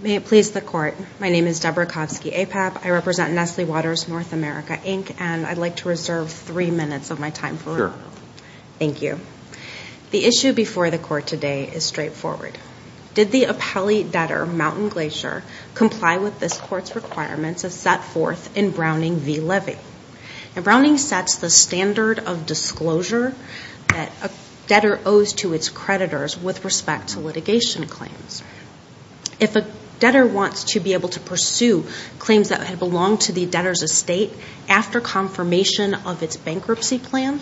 May it please the court, my name is Deborah Kofsky, APAP. I represent Nestle Waters North America, Inc. and I'd like to reserve three minutes of my time. Sure. Thank you. The issue before the court today is straightforward. Did the appellee debtor Mountain Glacier comply with this court's requirements as set forth in Browning v. Levy? And Browning sets the standard of disclosure that a debtor owes to its creditors with respect to litigation claims. If a debtor wants to be able to pursue claims that had belonged to the debtor's estate after confirmation of its bankruptcy plan,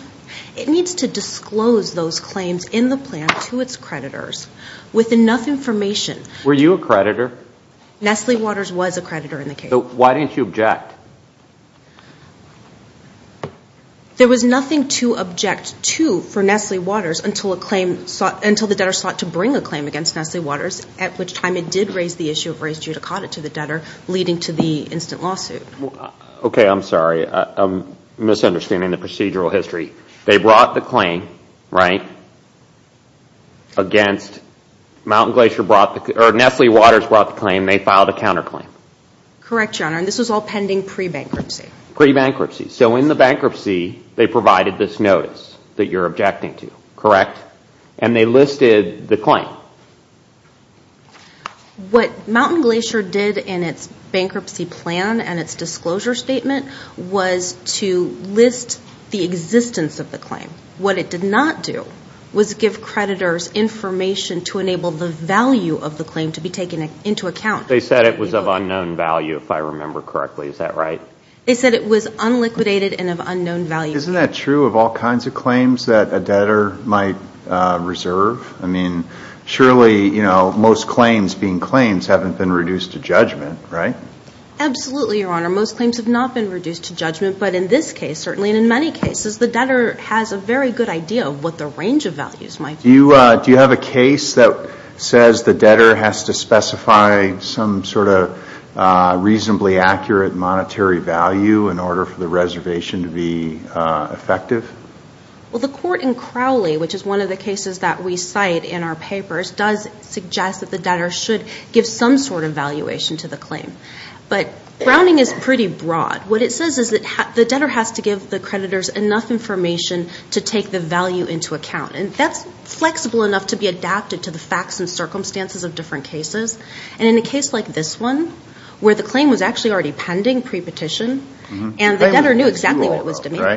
it needs to disclose those claims in the plan to its creditors with enough information. Were you a creditor? Nestle Waters was a creditor in the case. So why didn't you object? There was nothing to object to for Nestle Waters until the debtor sought to bring a claim against Nestle Waters, at which time it did raise the issue of raised judicata to the debtor, leading to the instant lawsuit. Okay, I'm misunderstanding the procedural history. They brought the claim, right, against, Mountain Glacier brought the, or Nestle Waters brought the claim, they filed a counterclaim. Correct, Your Honor, and this was all pending pre-bankruptcy. Pre-bankruptcy. So in the bankruptcy, they provided this notice that you're objecting to, correct? And they listed the claim. What to list the existence of the claim. What it did not do was give creditors information to enable the value of the claim to be taken into account. They said it was of unknown value, if I remember correctly. Is that right? They said it was unliquidated and of unknown value. Isn't that true of all kinds of claims that a debtor might reserve? I mean, surely, you know, most claims being claims haven't been reduced to judgment, right? Absolutely, Your Honor. Most claims have not been reduced to judgment, but in this case, certainly, and in many cases, the debtor has a very good idea of what the range of values might be. Do you have a case that says the debtor has to specify some sort of reasonably accurate monetary value in order for the reservation to be effective? Well, the court in Crowley, which is one of the cases that we cite in our papers, does suggest that the debtor should some sort of valuation to the claim. But Browning is pretty broad. What it says is that the debtor has to give the creditors enough information to take the value into account. And that's flexible enough to be adapted to the facts and circumstances of different cases. And in a case like this one, where the claim was actually already pending pre-petition, and the debtor knew exactly what it was to make. I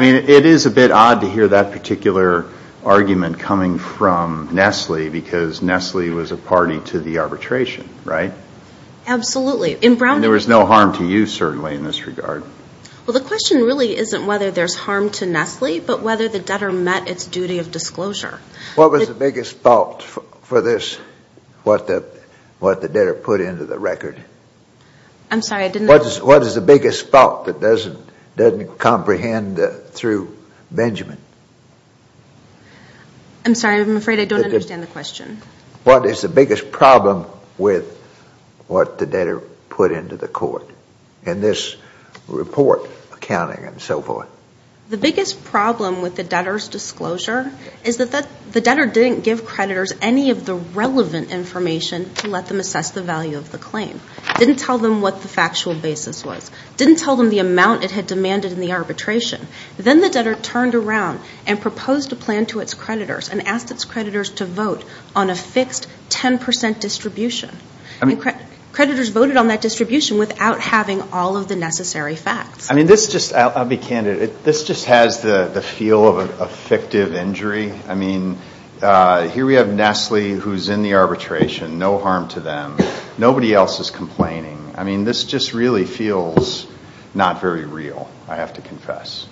mean, it is a bit odd to hear that perpetration, right? Absolutely. And there was no harm to you, certainly, in this regard. Well, the question really isn't whether there's harm to Nestle, but whether the debtor met its duty of disclosure. What was the biggest fault for this? What the debtor put into the record? I'm sorry, I didn't know. What is the biggest fault that doesn't comprehend through Benjamin? I'm sorry, I'm afraid I don't understand the question. What is the biggest problem with what the debtor put into the court in this report accounting and so forth? The biggest problem with the debtor's disclosure is that the debtor didn't give creditors any of the relevant information to let them assess the value of the claim. Didn't tell them what the factual basis was. Didn't tell them the amount it had demanded in the arbitration. Then the debtor turned around and proposed a plan to its creditors and asked its creditors to vote on a fixed 10% distribution. Creditors voted on that distribution without having all of the necessary facts. I mean, this just, I'll be candid, this just has the feel of a fictive injury. I mean, here we have Nestle who's in the arbitration, no harm to them. Nobody else is complaining. I mean, this just really feels not very real, I have to confess.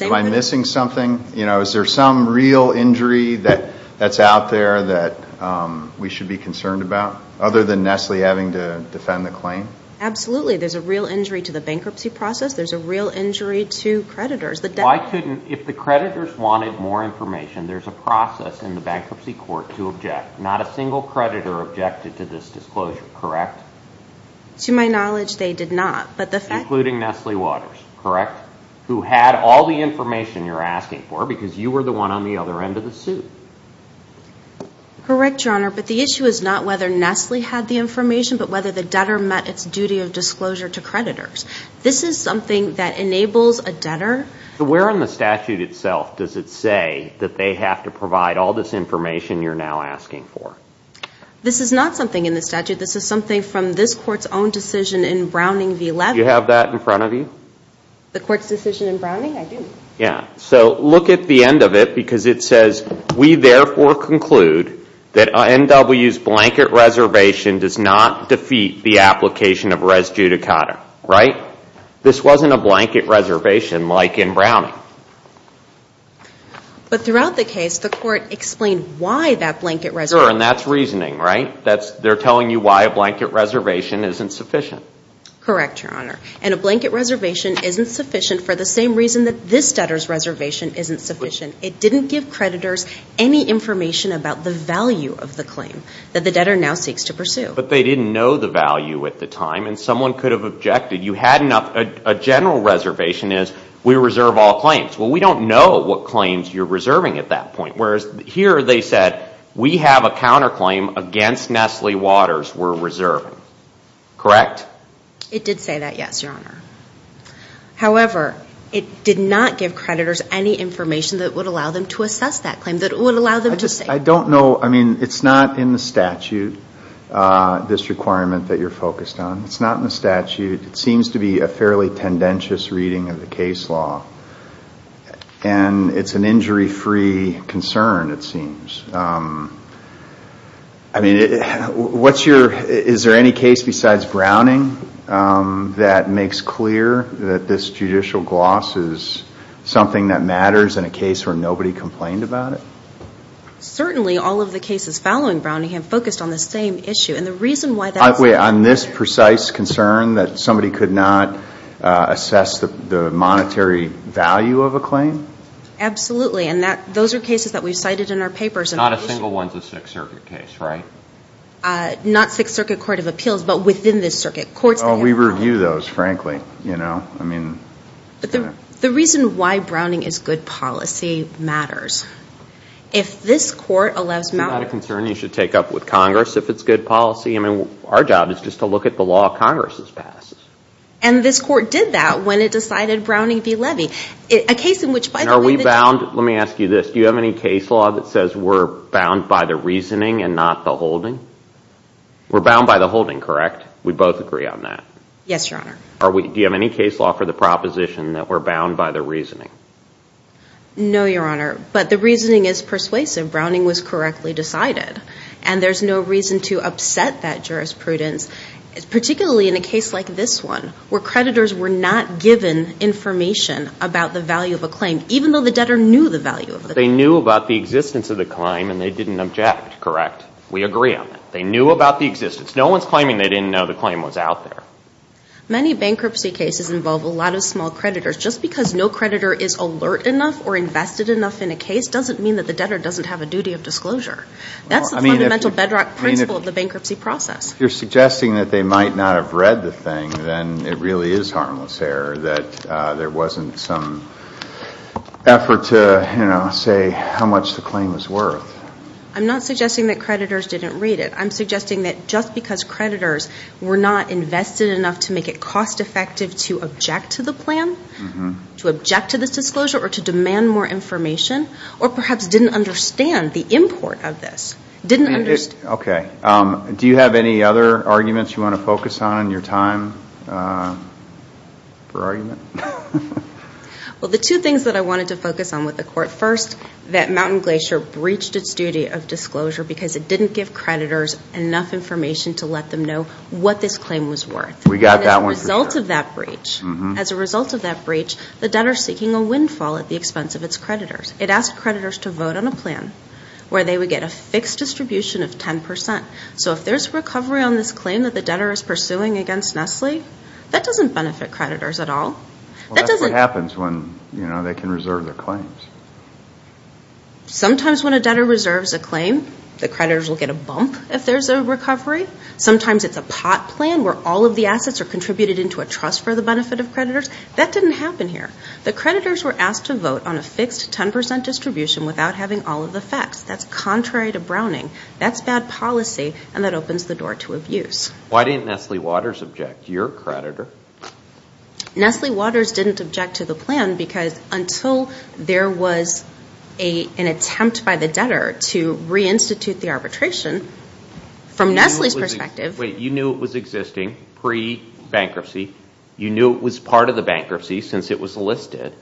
Am I missing something? Is there some real injury that's out there that we should be concerned about? Other than Nestle having to defend the claim? Absolutely. There's a real injury to the bankruptcy process. There's a real injury to creditors. Why couldn't, if the creditors wanted more information, there's a process in the bankruptcy court to object. Not a single creditor objected to this disclosure, correct? To my knowledge, they did not. Including Nestle Waters, correct? Who had all the information you're asking for because you were the one on the other end of the suit. Correct, Your Honor, but the issue is not whether Nestle had the information, but whether the debtor met its duty of disclosure to creditors. This is something that enables a debtor... Where in the statute itself does it say that they have to provide all this information you're now asking for? This is not something in the statute. This is something from this court's own decision in Browning v. Levy. Do you have that in front of you? The court's decision in Browning? I do. So look at the end of it because it says, we therefore conclude that NW's blanket reservation does not defeat the application of res judicata, right? This wasn't a blanket reservation like in Browning. But throughout the case, the court explained why that blanket reservation... Correct, Your Honor, and a blanket reservation isn't sufficient for the same reason that this debtor's reservation isn't sufficient. It didn't give creditors any information about the value of the claim that the debtor now seeks to pursue. But they didn't know the value at the time and someone could have objected. You had enough... A general reservation is, we reserve all claims. Well, we don't know what claims you're reserving at that point, whereas here they said, we have a counterclaim against Nestle Waters we're reserving. Correct? It did say that, yes, Your Honor. However, it did not give creditors any information that would allow them to assess that claim, that would allow them to... I don't know, I mean, it's not in the statute, this requirement that you're focused on. It's not in the statute. It seems to be a fairly tendentious reading of the case law and it's an injury-free concern, it seems. I mean, is there any case besides Browning that makes clear that this judicial gloss is something that matters in a case where nobody complained about it? Certainly, all of the cases following Browning have focused on the same issue and the reason why that's... Wait, on this precise concern that somebody could not assess the monetary value of a claim? Absolutely, and those are cases that we've cited in our papers and... Not a single one's a Sixth Circuit case, right? Not Sixth Circuit Court of Appeals, but within the circuit courts... Oh, we review those, frankly, you know? I mean... The reason why Browning is good policy matters. If this court allows... Is that a concern you should take up with Congress, if it's good policy? I mean, our job is just to look at the law Congress has passed. And this court did that when it decided Browning be levy. A case in which, by the way... And are we bound... Let me ask you this. Do you have any case law that says we're bound by the reasoning and not the holding? We're bound by the holding, correct? We both agree on that? Yes, Your Honor. Do you have any case law for the proposition that we're bound by the reasoning? No, Your Honor, but the reasoning is persuasive. Browning was correctly decided and there's no reason to upset that jurisprudence, particularly in a case like this one, where creditors were not given information about the value of a claim, even though the debtor knew the value of the claim. They knew about the existence of the claim and they didn't object, correct? We agree on that. They knew about the existence. No one's claiming they didn't know the claim was out there. Many bankruptcy cases involve a lot of small creditors. Just because no creditor is alert enough or invested enough in a case doesn't mean that the debtor doesn't have a duty of disclosure. That's the fundamental bedrock principle of the bankruptcy process. You're suggesting that they might not have read the thing, then it really is harmless error that there wasn't some effort to, you know, say how much the claim was worth. I'm not suggesting that creditors didn't read it. I'm suggesting that just because creditors were not invested enough to make it cost effective to object to the plan, to object to this disclosure or to demand more information, or perhaps didn't understand the import of this. Didn't understand. Okay. Do you have any other arguments you want to focus on in your time for argument? Well, the two things that I wanted to focus on with the court. First, that Mountain Glacier breached its duty of disclosure because it didn't give creditors enough information to let them know what this claim was worth. We got that one for sure. As a result of that breach, as a result of that breach, the debtor is seeking a windfall at the expense of its creditors. It asked creditors to vote on a plan where they would get a fixed distribution of 10%. So if there's recovery on this claim that the debtor is pursuing against Nestle, that doesn't benefit creditors at all. Well, that's what happens when, you know, they can reserve their claims. Sometimes when a debtor reserves a claim, the creditors will get a bump if there's a breach. What trust for the benefit of creditors? That didn't happen here. The creditors were asked to vote on a fixed 10% distribution without having all of the facts. That's contrary to Browning. That's bad policy and that opens the door to abuse. Why didn't Nestle Waters object? You're a creditor. Nestle Waters didn't object to the plan because until there was an attempt by the debtor to re-institute the arbitration, from Nestle's perspective... Wait, you knew it was existing pre-bankruptcy. You knew it was part of the bankruptcy since it was listed.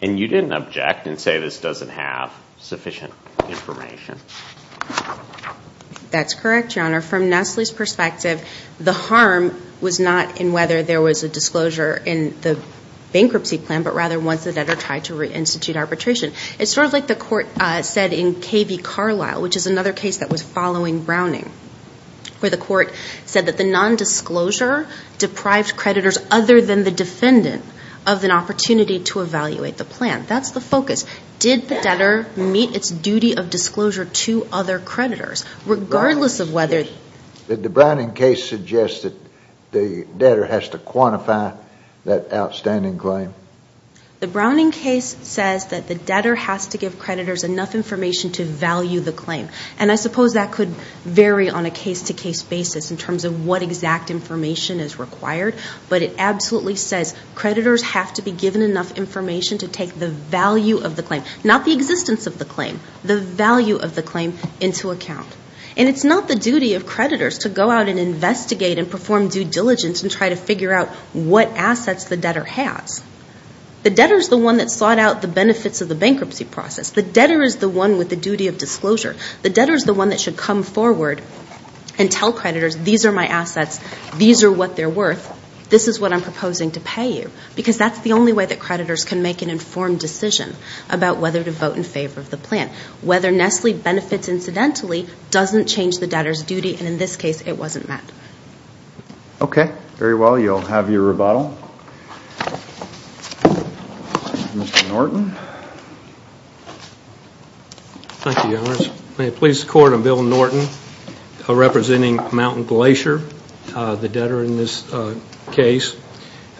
And you didn't object and say this doesn't have sufficient information. That's correct, Your Honor. From Nestle's perspective, the harm was not in whether there was a disclosure in the bankruptcy plan, but rather once the debtor tried to re-institute arbitration. It's sort of like the court said in K.V. Carlyle, which is another case that was following Browning, where the court said that the nondisclosure deprived creditors other than the defendant of an opportunity to evaluate the plan. That's the focus. Did the debtor meet its duty of disclosure to other creditors, regardless of whether... Did the Browning case suggest that the debtor has to quantify that outstanding claim? The Browning case says that the debtor has to give creditors enough information to value the claim. And I suppose that could vary on a case-to-case basis in terms of what exact information is required, but it absolutely says creditors have to be given enough information to take the value of the claim, not the existence of the claim, the value of the claim into account. And it's not the duty of creditors to go out and investigate and perform due diligence and try to figure out what assets the debtor has. The debtor is the one that sought out the benefits of the bankruptcy process. The debtor is the one with the duty of disclosure. The debtor is the one that should come forward and tell creditors, these are my assets, these are what they're worth, this is what I'm proposing to pay you. Because that's the only way that creditors can make an informed decision about whether to vote in favor of the plan. Whether Nestle benefits incidentally doesn't change the debtor's duty, and in this case, it wasn't met. Okay. Very well. You'll have your rebuttal. Mr. Norton. Thank you, Your Honor. May it please the Court, I'm Bill Norton, representing Mountain Glacier, the debtor in this case.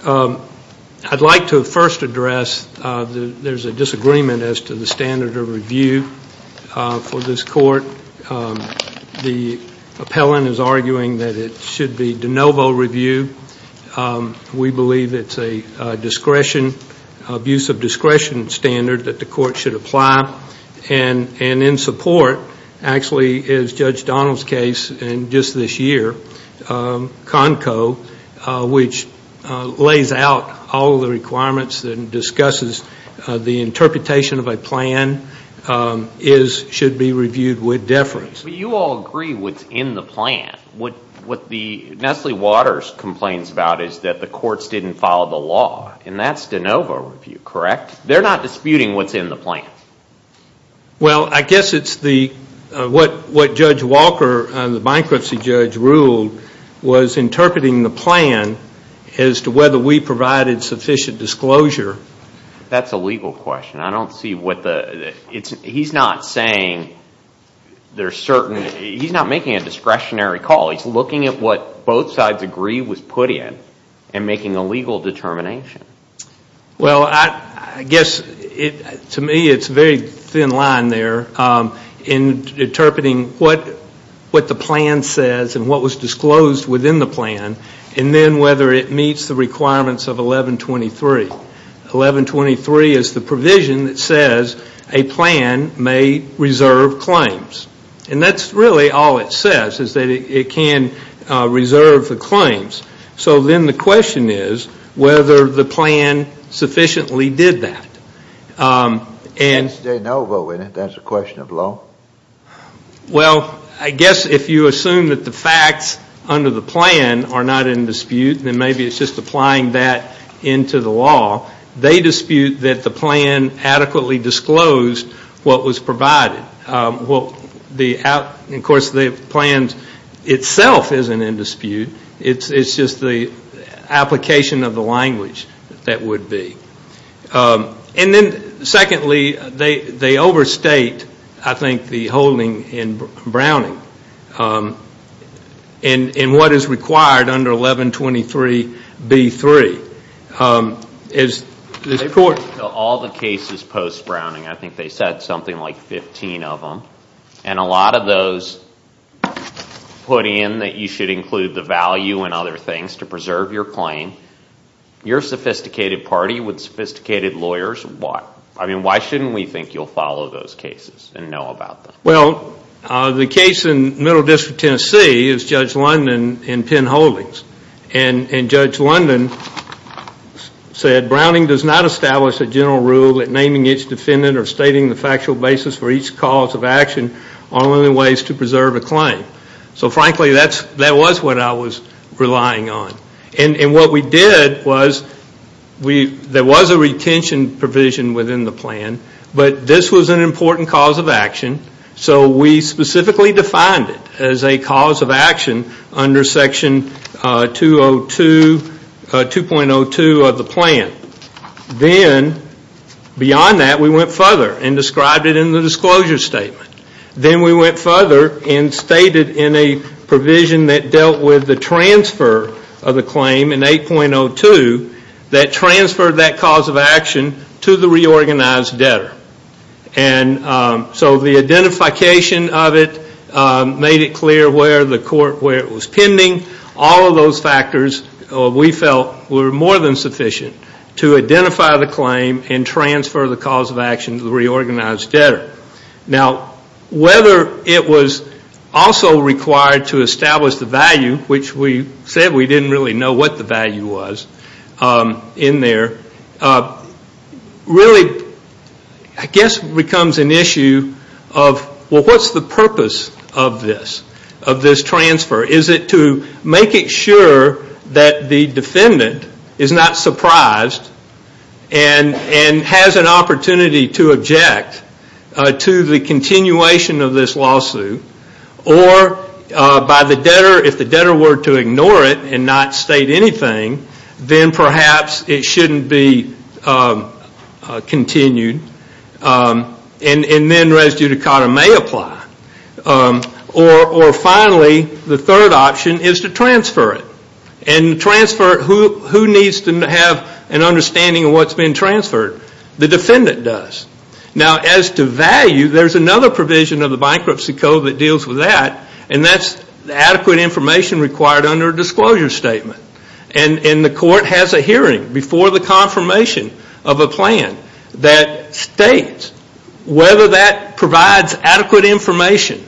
I'd like to first address there's a disagreement as to the standard of review for this Court. The appellant is arguing that it should be de novo review. We believe it's a discretion, abuse of discretion standard that the Court should apply. And in support, actually, is Judge Donald's case in just this year, CONCO, which lays out all the requirements and discusses the interpretation of a plan, should be reviewed with deference. You all agree what's in the plan. What Nestle Waters complains about is that the courts didn't follow the law, and that's de novo review, correct? They're not disputing what's in the plan. Well, I guess it's what Judge Walker, the bankruptcy judge, ruled was interpreting the plan. He provided sufficient disclosure. That's a legal question. I don't see what the, he's not saying there's certain, he's not making a discretionary call. He's looking at what both sides agree was put in and making a legal determination. Well I guess to me it's a very thin line there in interpreting what the plan says and what whether it meets the requirements of 1123. 1123 is the provision that says a plan may reserve claims. And that's really all it says, is that it can reserve the claims. So then the question is whether the plan sufficiently did that. That's de novo, isn't it? That's a question of law? Well, I guess if you assume that the facts under the plan are not in dispute, then maybe it's just applying that into the law. They dispute that the plan adequately disclosed what was provided. Of course, the plan itself isn't in dispute. It's just the application of the language that would be. And then secondly, they overstate, I think, the holding in Browning. In what is required under 1123B3, is the court All the cases post-Browning, I think they said something like 15 of them. And a lot of those put in that you should include the value and other things to preserve your claim. You're a sophisticated party with sophisticated lawyers. Why? I mean, why shouldn't we think you'll follow those cases and know about them? Well, the case in Middle District, Tennessee is Judge London and Penn Holdings. And Judge London said, Browning does not establish a general rule that naming its defendant or stating the factual basis for each cause of action are the only ways to preserve a claim. So frankly, that was what I was relying on. And what we did was, there was a retention provision within the plan, but this was an important cause of action. So we specifically defined it as a cause of action under section 202, 2.02 of the plan. Then, beyond that, we went further and described it in the disclosure statement. Then we went further and stated in a provision that dealt with the transfer of the claim in 8.02, that transferred that cause of action to the reorganized debtor. And so the identification of it made it clear where the court, where it was pending. All of those factors, we felt, were more than cause of action to the reorganized debtor. Now, whether it was also required to establish the value, which we said we didn't really know what the value was in there, really, I guess, becomes an issue of, well, what's the purpose of this, of this transfer? Is it to make it sure that the defendant is not surprised, and has an opportunity to object to the continuation of this lawsuit? Or, if the debtor were to ignore it and not state anything, then perhaps it shouldn't be continued, and then res judicata may apply. Or finally, the third option is to transfer it. And transfer it, who needs to have an understanding of what's being transferred? The defendant does. Now as to value, there's another provision of the bankruptcy code that deals with that, and that's adequate information required under a disclosure statement. And the court has a hearing before the confirmation of a plan that states whether that provides adequate information.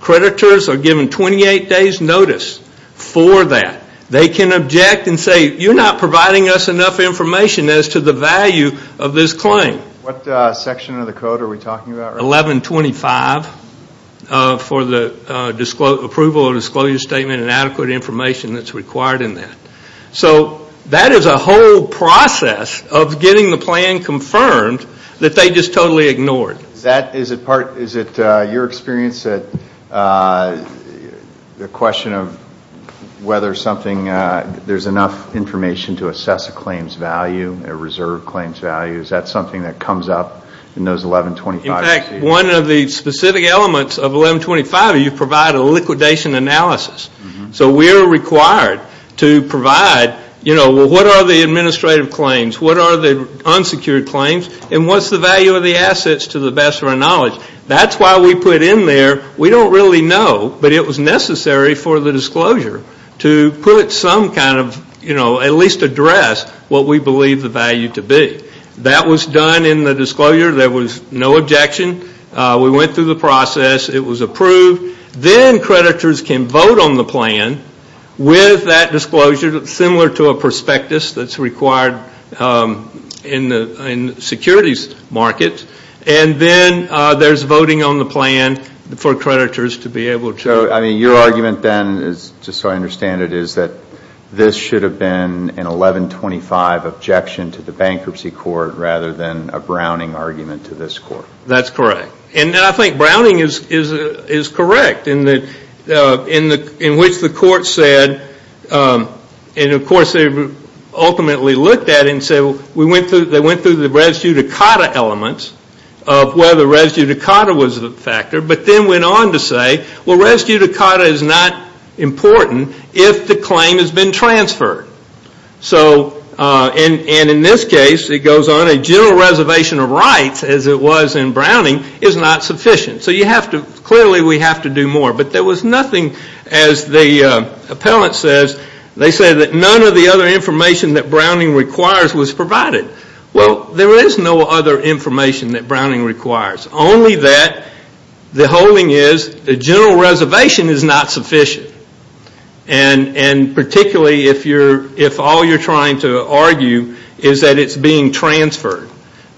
Creditors are given 28 days' notice for that. They can object and say, you're not providing us enough information as to the value of this claim. What section of the code are we talking about right now? 1125, for the approval of a disclosure statement and adequate information that's required in that. So that is a whole process of getting the plan confirmed that they just totally ignored. Is it your experience that the question of whether there's enough information to assess a claim's value, a reserve claim's value, is that something that comes up in those 1125 receipts? In fact, one of the specific elements of 1125, you provide a liquidation analysis. So we are required to provide, what are the administrative claims, what are the unsecured claims, and what's the value of the assets to the best of our knowledge. That's why we put in there, we don't really know, but it was necessary for the disclosure to put some kind of, at least address what we believe the value to be. That was done in the disclosure. There was no objection. We went through the process. It was approved. Then creditors can vote on the plan with that disclosure, similar to a prospectus that's required in the securities market. Then there's voting on the plan for creditors to be able to... Your argument then, just so I understand it, is that this should have been an 1125 objection to the bankruptcy court rather than a Browning argument to this court. That's correct. I think Browning is correct in which the court said, and of course they ultimately looked at it and said, they went through the res judicata elements of whether res judicata was the factor, but then went on to say, well res judicata is not important if the claim has been transferred. In this case, it goes on, a general reservation of rights, as it was in Browning, is not sufficient. Clearly we have to do more, but there was nothing, as the appellant says, they said that none of the other information that Browning requires was provided. Well, there is no other information that Browning requires. Only that the holding is the general reservation is not sufficient, and particularly if all you're trying to argue is that it's being transferred,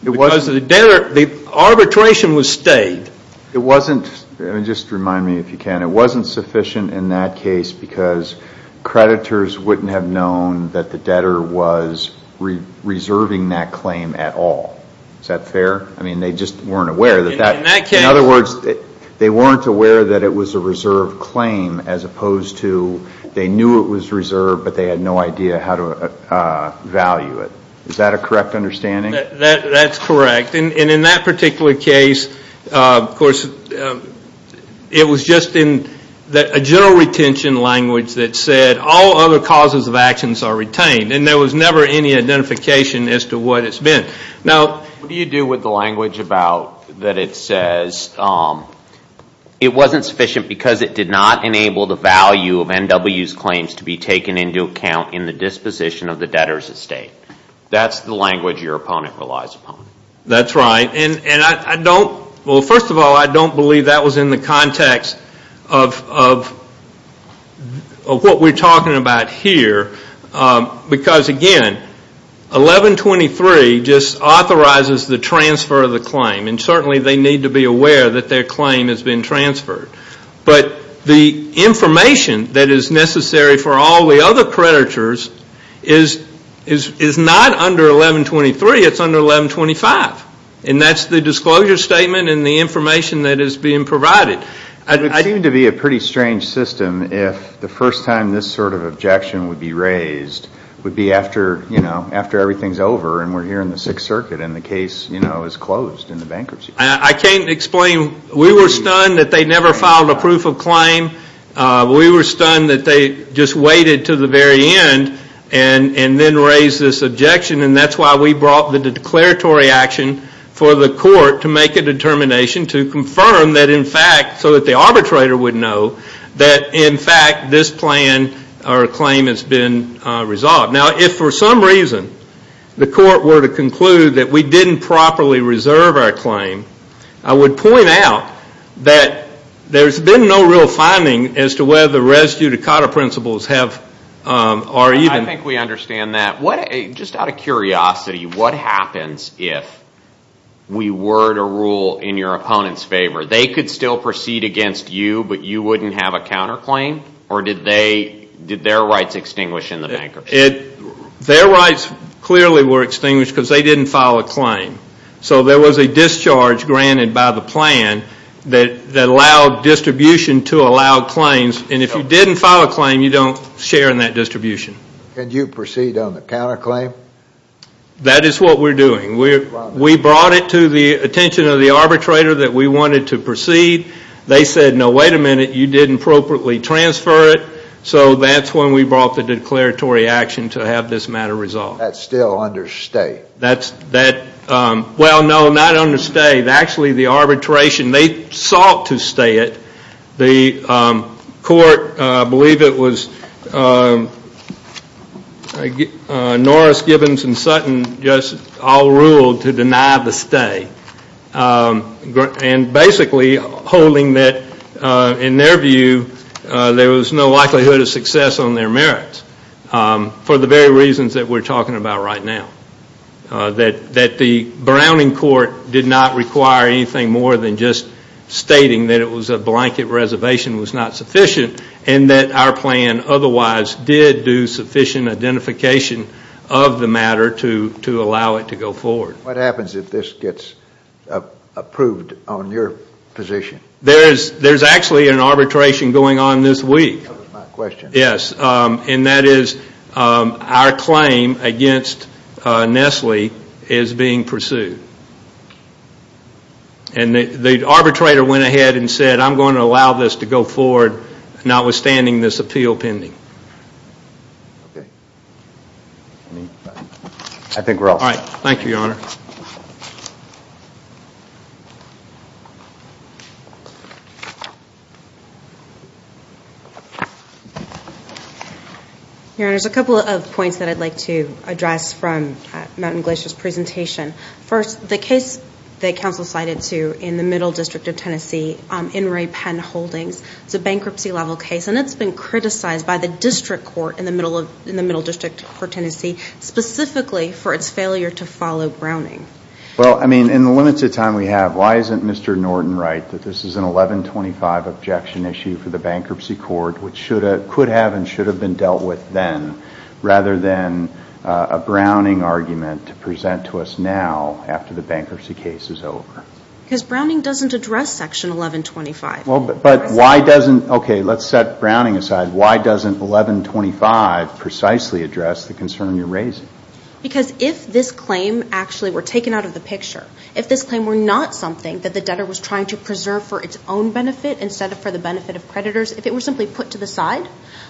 because the arbitration was stayed. It wasn't, just remind me if you can, it wasn't sufficient in that case because creditors wouldn't have known that the debtor was reserving that claim at all. Is that fair? I mean, they just weren't aware that that... In that case... In other words, they weren't aware that it was a reserved claim, as opposed to they knew it was reserved, but they had no idea how to value it. Is that a correct understanding? That's correct, and in that particular case, of course, it was just in a general retention language that said all other causes of actions are retained, and there was never any identification as to what it's been. Now, what do you do with the language about that it says it wasn't sufficient because it did not enable the value of NW's claims to be taken into account in the disposition of the debtor's estate? That's the language your opponent relies upon. That's right, and I don't, well, first of all, I don't believe that was in the context of what we're talking about here because, again, 1123 just authorizes the transfer of the claim, and certainly they need to be aware that their claim has been transferred, but the information that is necessary for all the other creditors is not under 1123, it's under 1125, and that's the disclosure statement and the information that is being provided. It would seem to be a pretty strange system if the first time this sort of objection would be raised would be after, you know, after everything's over and we're here in the Sixth Circuit and the case, you know, is closed in the bankruptcy. I can't explain. We were stunned that they never filed a proof of claim. We were stunned that they just waited to the very end and then raised this objection, and that's why we brought the declaratory action for the court to make a determination to confirm that, in fact, so that the arbitrator would know that, in fact, this plan or claim has been resolved. Now, if for some reason the court were to conclude that we didn't properly reserve our claim, I would point out that there's been no real finding as to whether residue to COTA principles have or even... I think we understand that. Just out of curiosity, what happens if we were to rule in your opponent's favor? They could still proceed against you, but you wouldn't have a counterclaim? Or did their rights extinguish in the bankruptcy? Their rights clearly were extinguished because they didn't file a claim. So there was a discharge granted by the plan that allowed distribution to allow claims, and if you didn't file a claim, you don't share in that distribution. And you proceed on the counterclaim? That is what we're doing. We brought it to the attention of the arbitrator that we wanted to proceed. They said, no, wait a minute, you didn't appropriately transfer it. So that's when we brought the declaratory action to have this matter resolved. That's still under stay? That's... Well, no, not under stay. Actually, the arbitration, they sought to stay it. The court, I believe it was Norris, Gibbons, and Sutton just all ruled to deny the stay. And basically holding that, in their view, there was no likelihood of success on their merits for the very reasons that we're talking about right now. That the Browning court did not require anything more than just stating that it was a blanket reservation was not sufficient and that our plan otherwise did do sufficient identification of the matter to allow it to go forward. What happens if this gets approved on your position? There's actually an arbitration going on this week. That was my question. Yes. And that is our claim against Nestle is being pursued. And the arbitrator went ahead and said, I'm going to allow this to go forward, notwithstanding this appeal pending. Okay. I think we're all set. All right. Thank you, Your Honor. Your Honor, there's a couple of points that I'd like to address from Mount and Glacier's presentation. First, the case that counsel cited to in the middle district of Tennessee in Ray Penn Holdings, it's a bankruptcy level case and it's been criticized by the district court in the middle district for Tennessee, specifically for its failure to follow Browning. Well, I mean, in the limited time we have, why isn't Mr. Norton right that this is an 1125 objection issue for the bankruptcy court, which could have and should have been dealt with then, rather than a Browning argument to present to us now after the bankruptcy case is over? Because Browning doesn't address section 1125. But why doesn't, okay, let's set Browning aside. Why doesn't 1125 precisely address the concern you're raising? Because if this claim actually were taken out of the picture, if this claim were not something that the debtor was trying to preserve for its own benefit instead of for the benefit of creditors, if it were simply put to the side,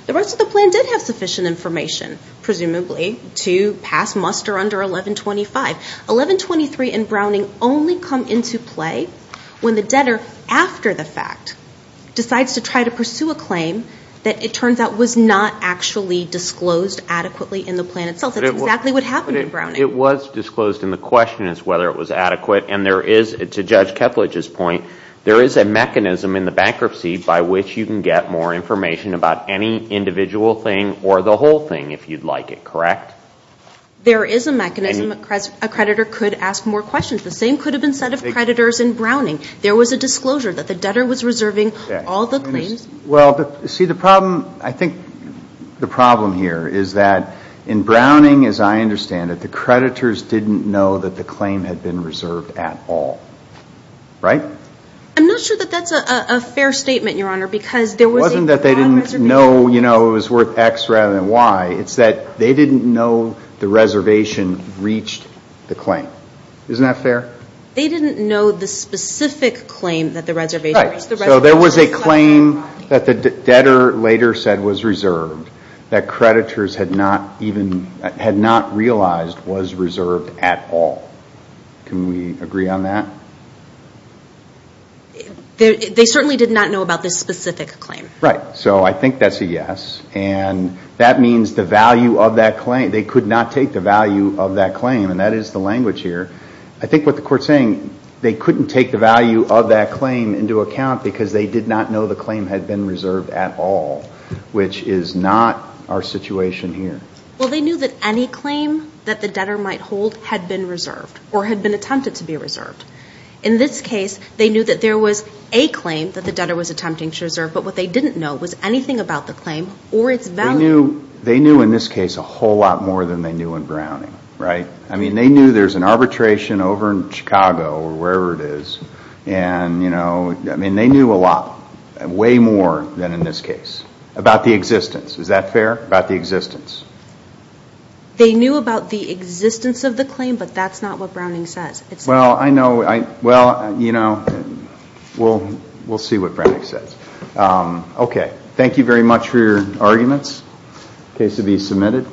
the rest of the plan did have sufficient information, presumably, to pass muster under 1125. 1123 and Browning only come into play when the debtor, after the fact, decides to try to pursue a claim that it turns out was not actually disclosed adequately in the plan itself. That's exactly what happened in Browning. It was disclosed, and the question is whether it was adequate. And there is, to Judge Keplech's point, there is a mechanism in the bankruptcy by which you can get more information about any individual thing or the whole thing, if you'd like it, correct? There is a mechanism. A creditor could ask more questions. The same could have been said of creditors in Browning. There was a disclosure that the debtor was reserving all the claims. Well, see, the problem, I think, the problem here is that in Browning, as I understand it, the creditors didn't know that the claim had been reserved at all. Right? I'm not sure that that's a fair statement, Your Honor, because there was a broad reservation. It wasn't that they didn't know it was worth X rather than Y. It's that they didn't know the reservation reached the claim. Isn't that fair? They didn't know the specific claim that the reservation reached. Right. So there was a claim that the debtor later said was reserved that creditors had not even, had not realized was reserved at all. Can we agree on that? They certainly did not know about this specific claim. Right. So I think that's a yes. And that means the value of that claim, they could not take the value of that claim, and that is the language here. I think what the Court's saying, they couldn't take the value of that claim into account because they did not know the claim had been reserved at all, which is not our situation here. Well, they knew that any claim that the debtor might hold had been reserved or had been attempted to be reserved. In this case, they knew that there was a claim that the debtor was attempting to reserve, but what they didn't know was anything about the claim or its value. They knew in this case a whole lot more than they knew in Browning, right? I mean, they knew there's an arbitration over in Chicago or wherever it is, and, you know, I mean, they knew a lot, way more than in this case, about the existence. Is that fair? About the existence. They knew about the existence of the claim, but that's not what Browning says. Well, I know. Well, you know, we'll see what Browning says. Okay. Thank you very much for your arguments. Case to be submitted.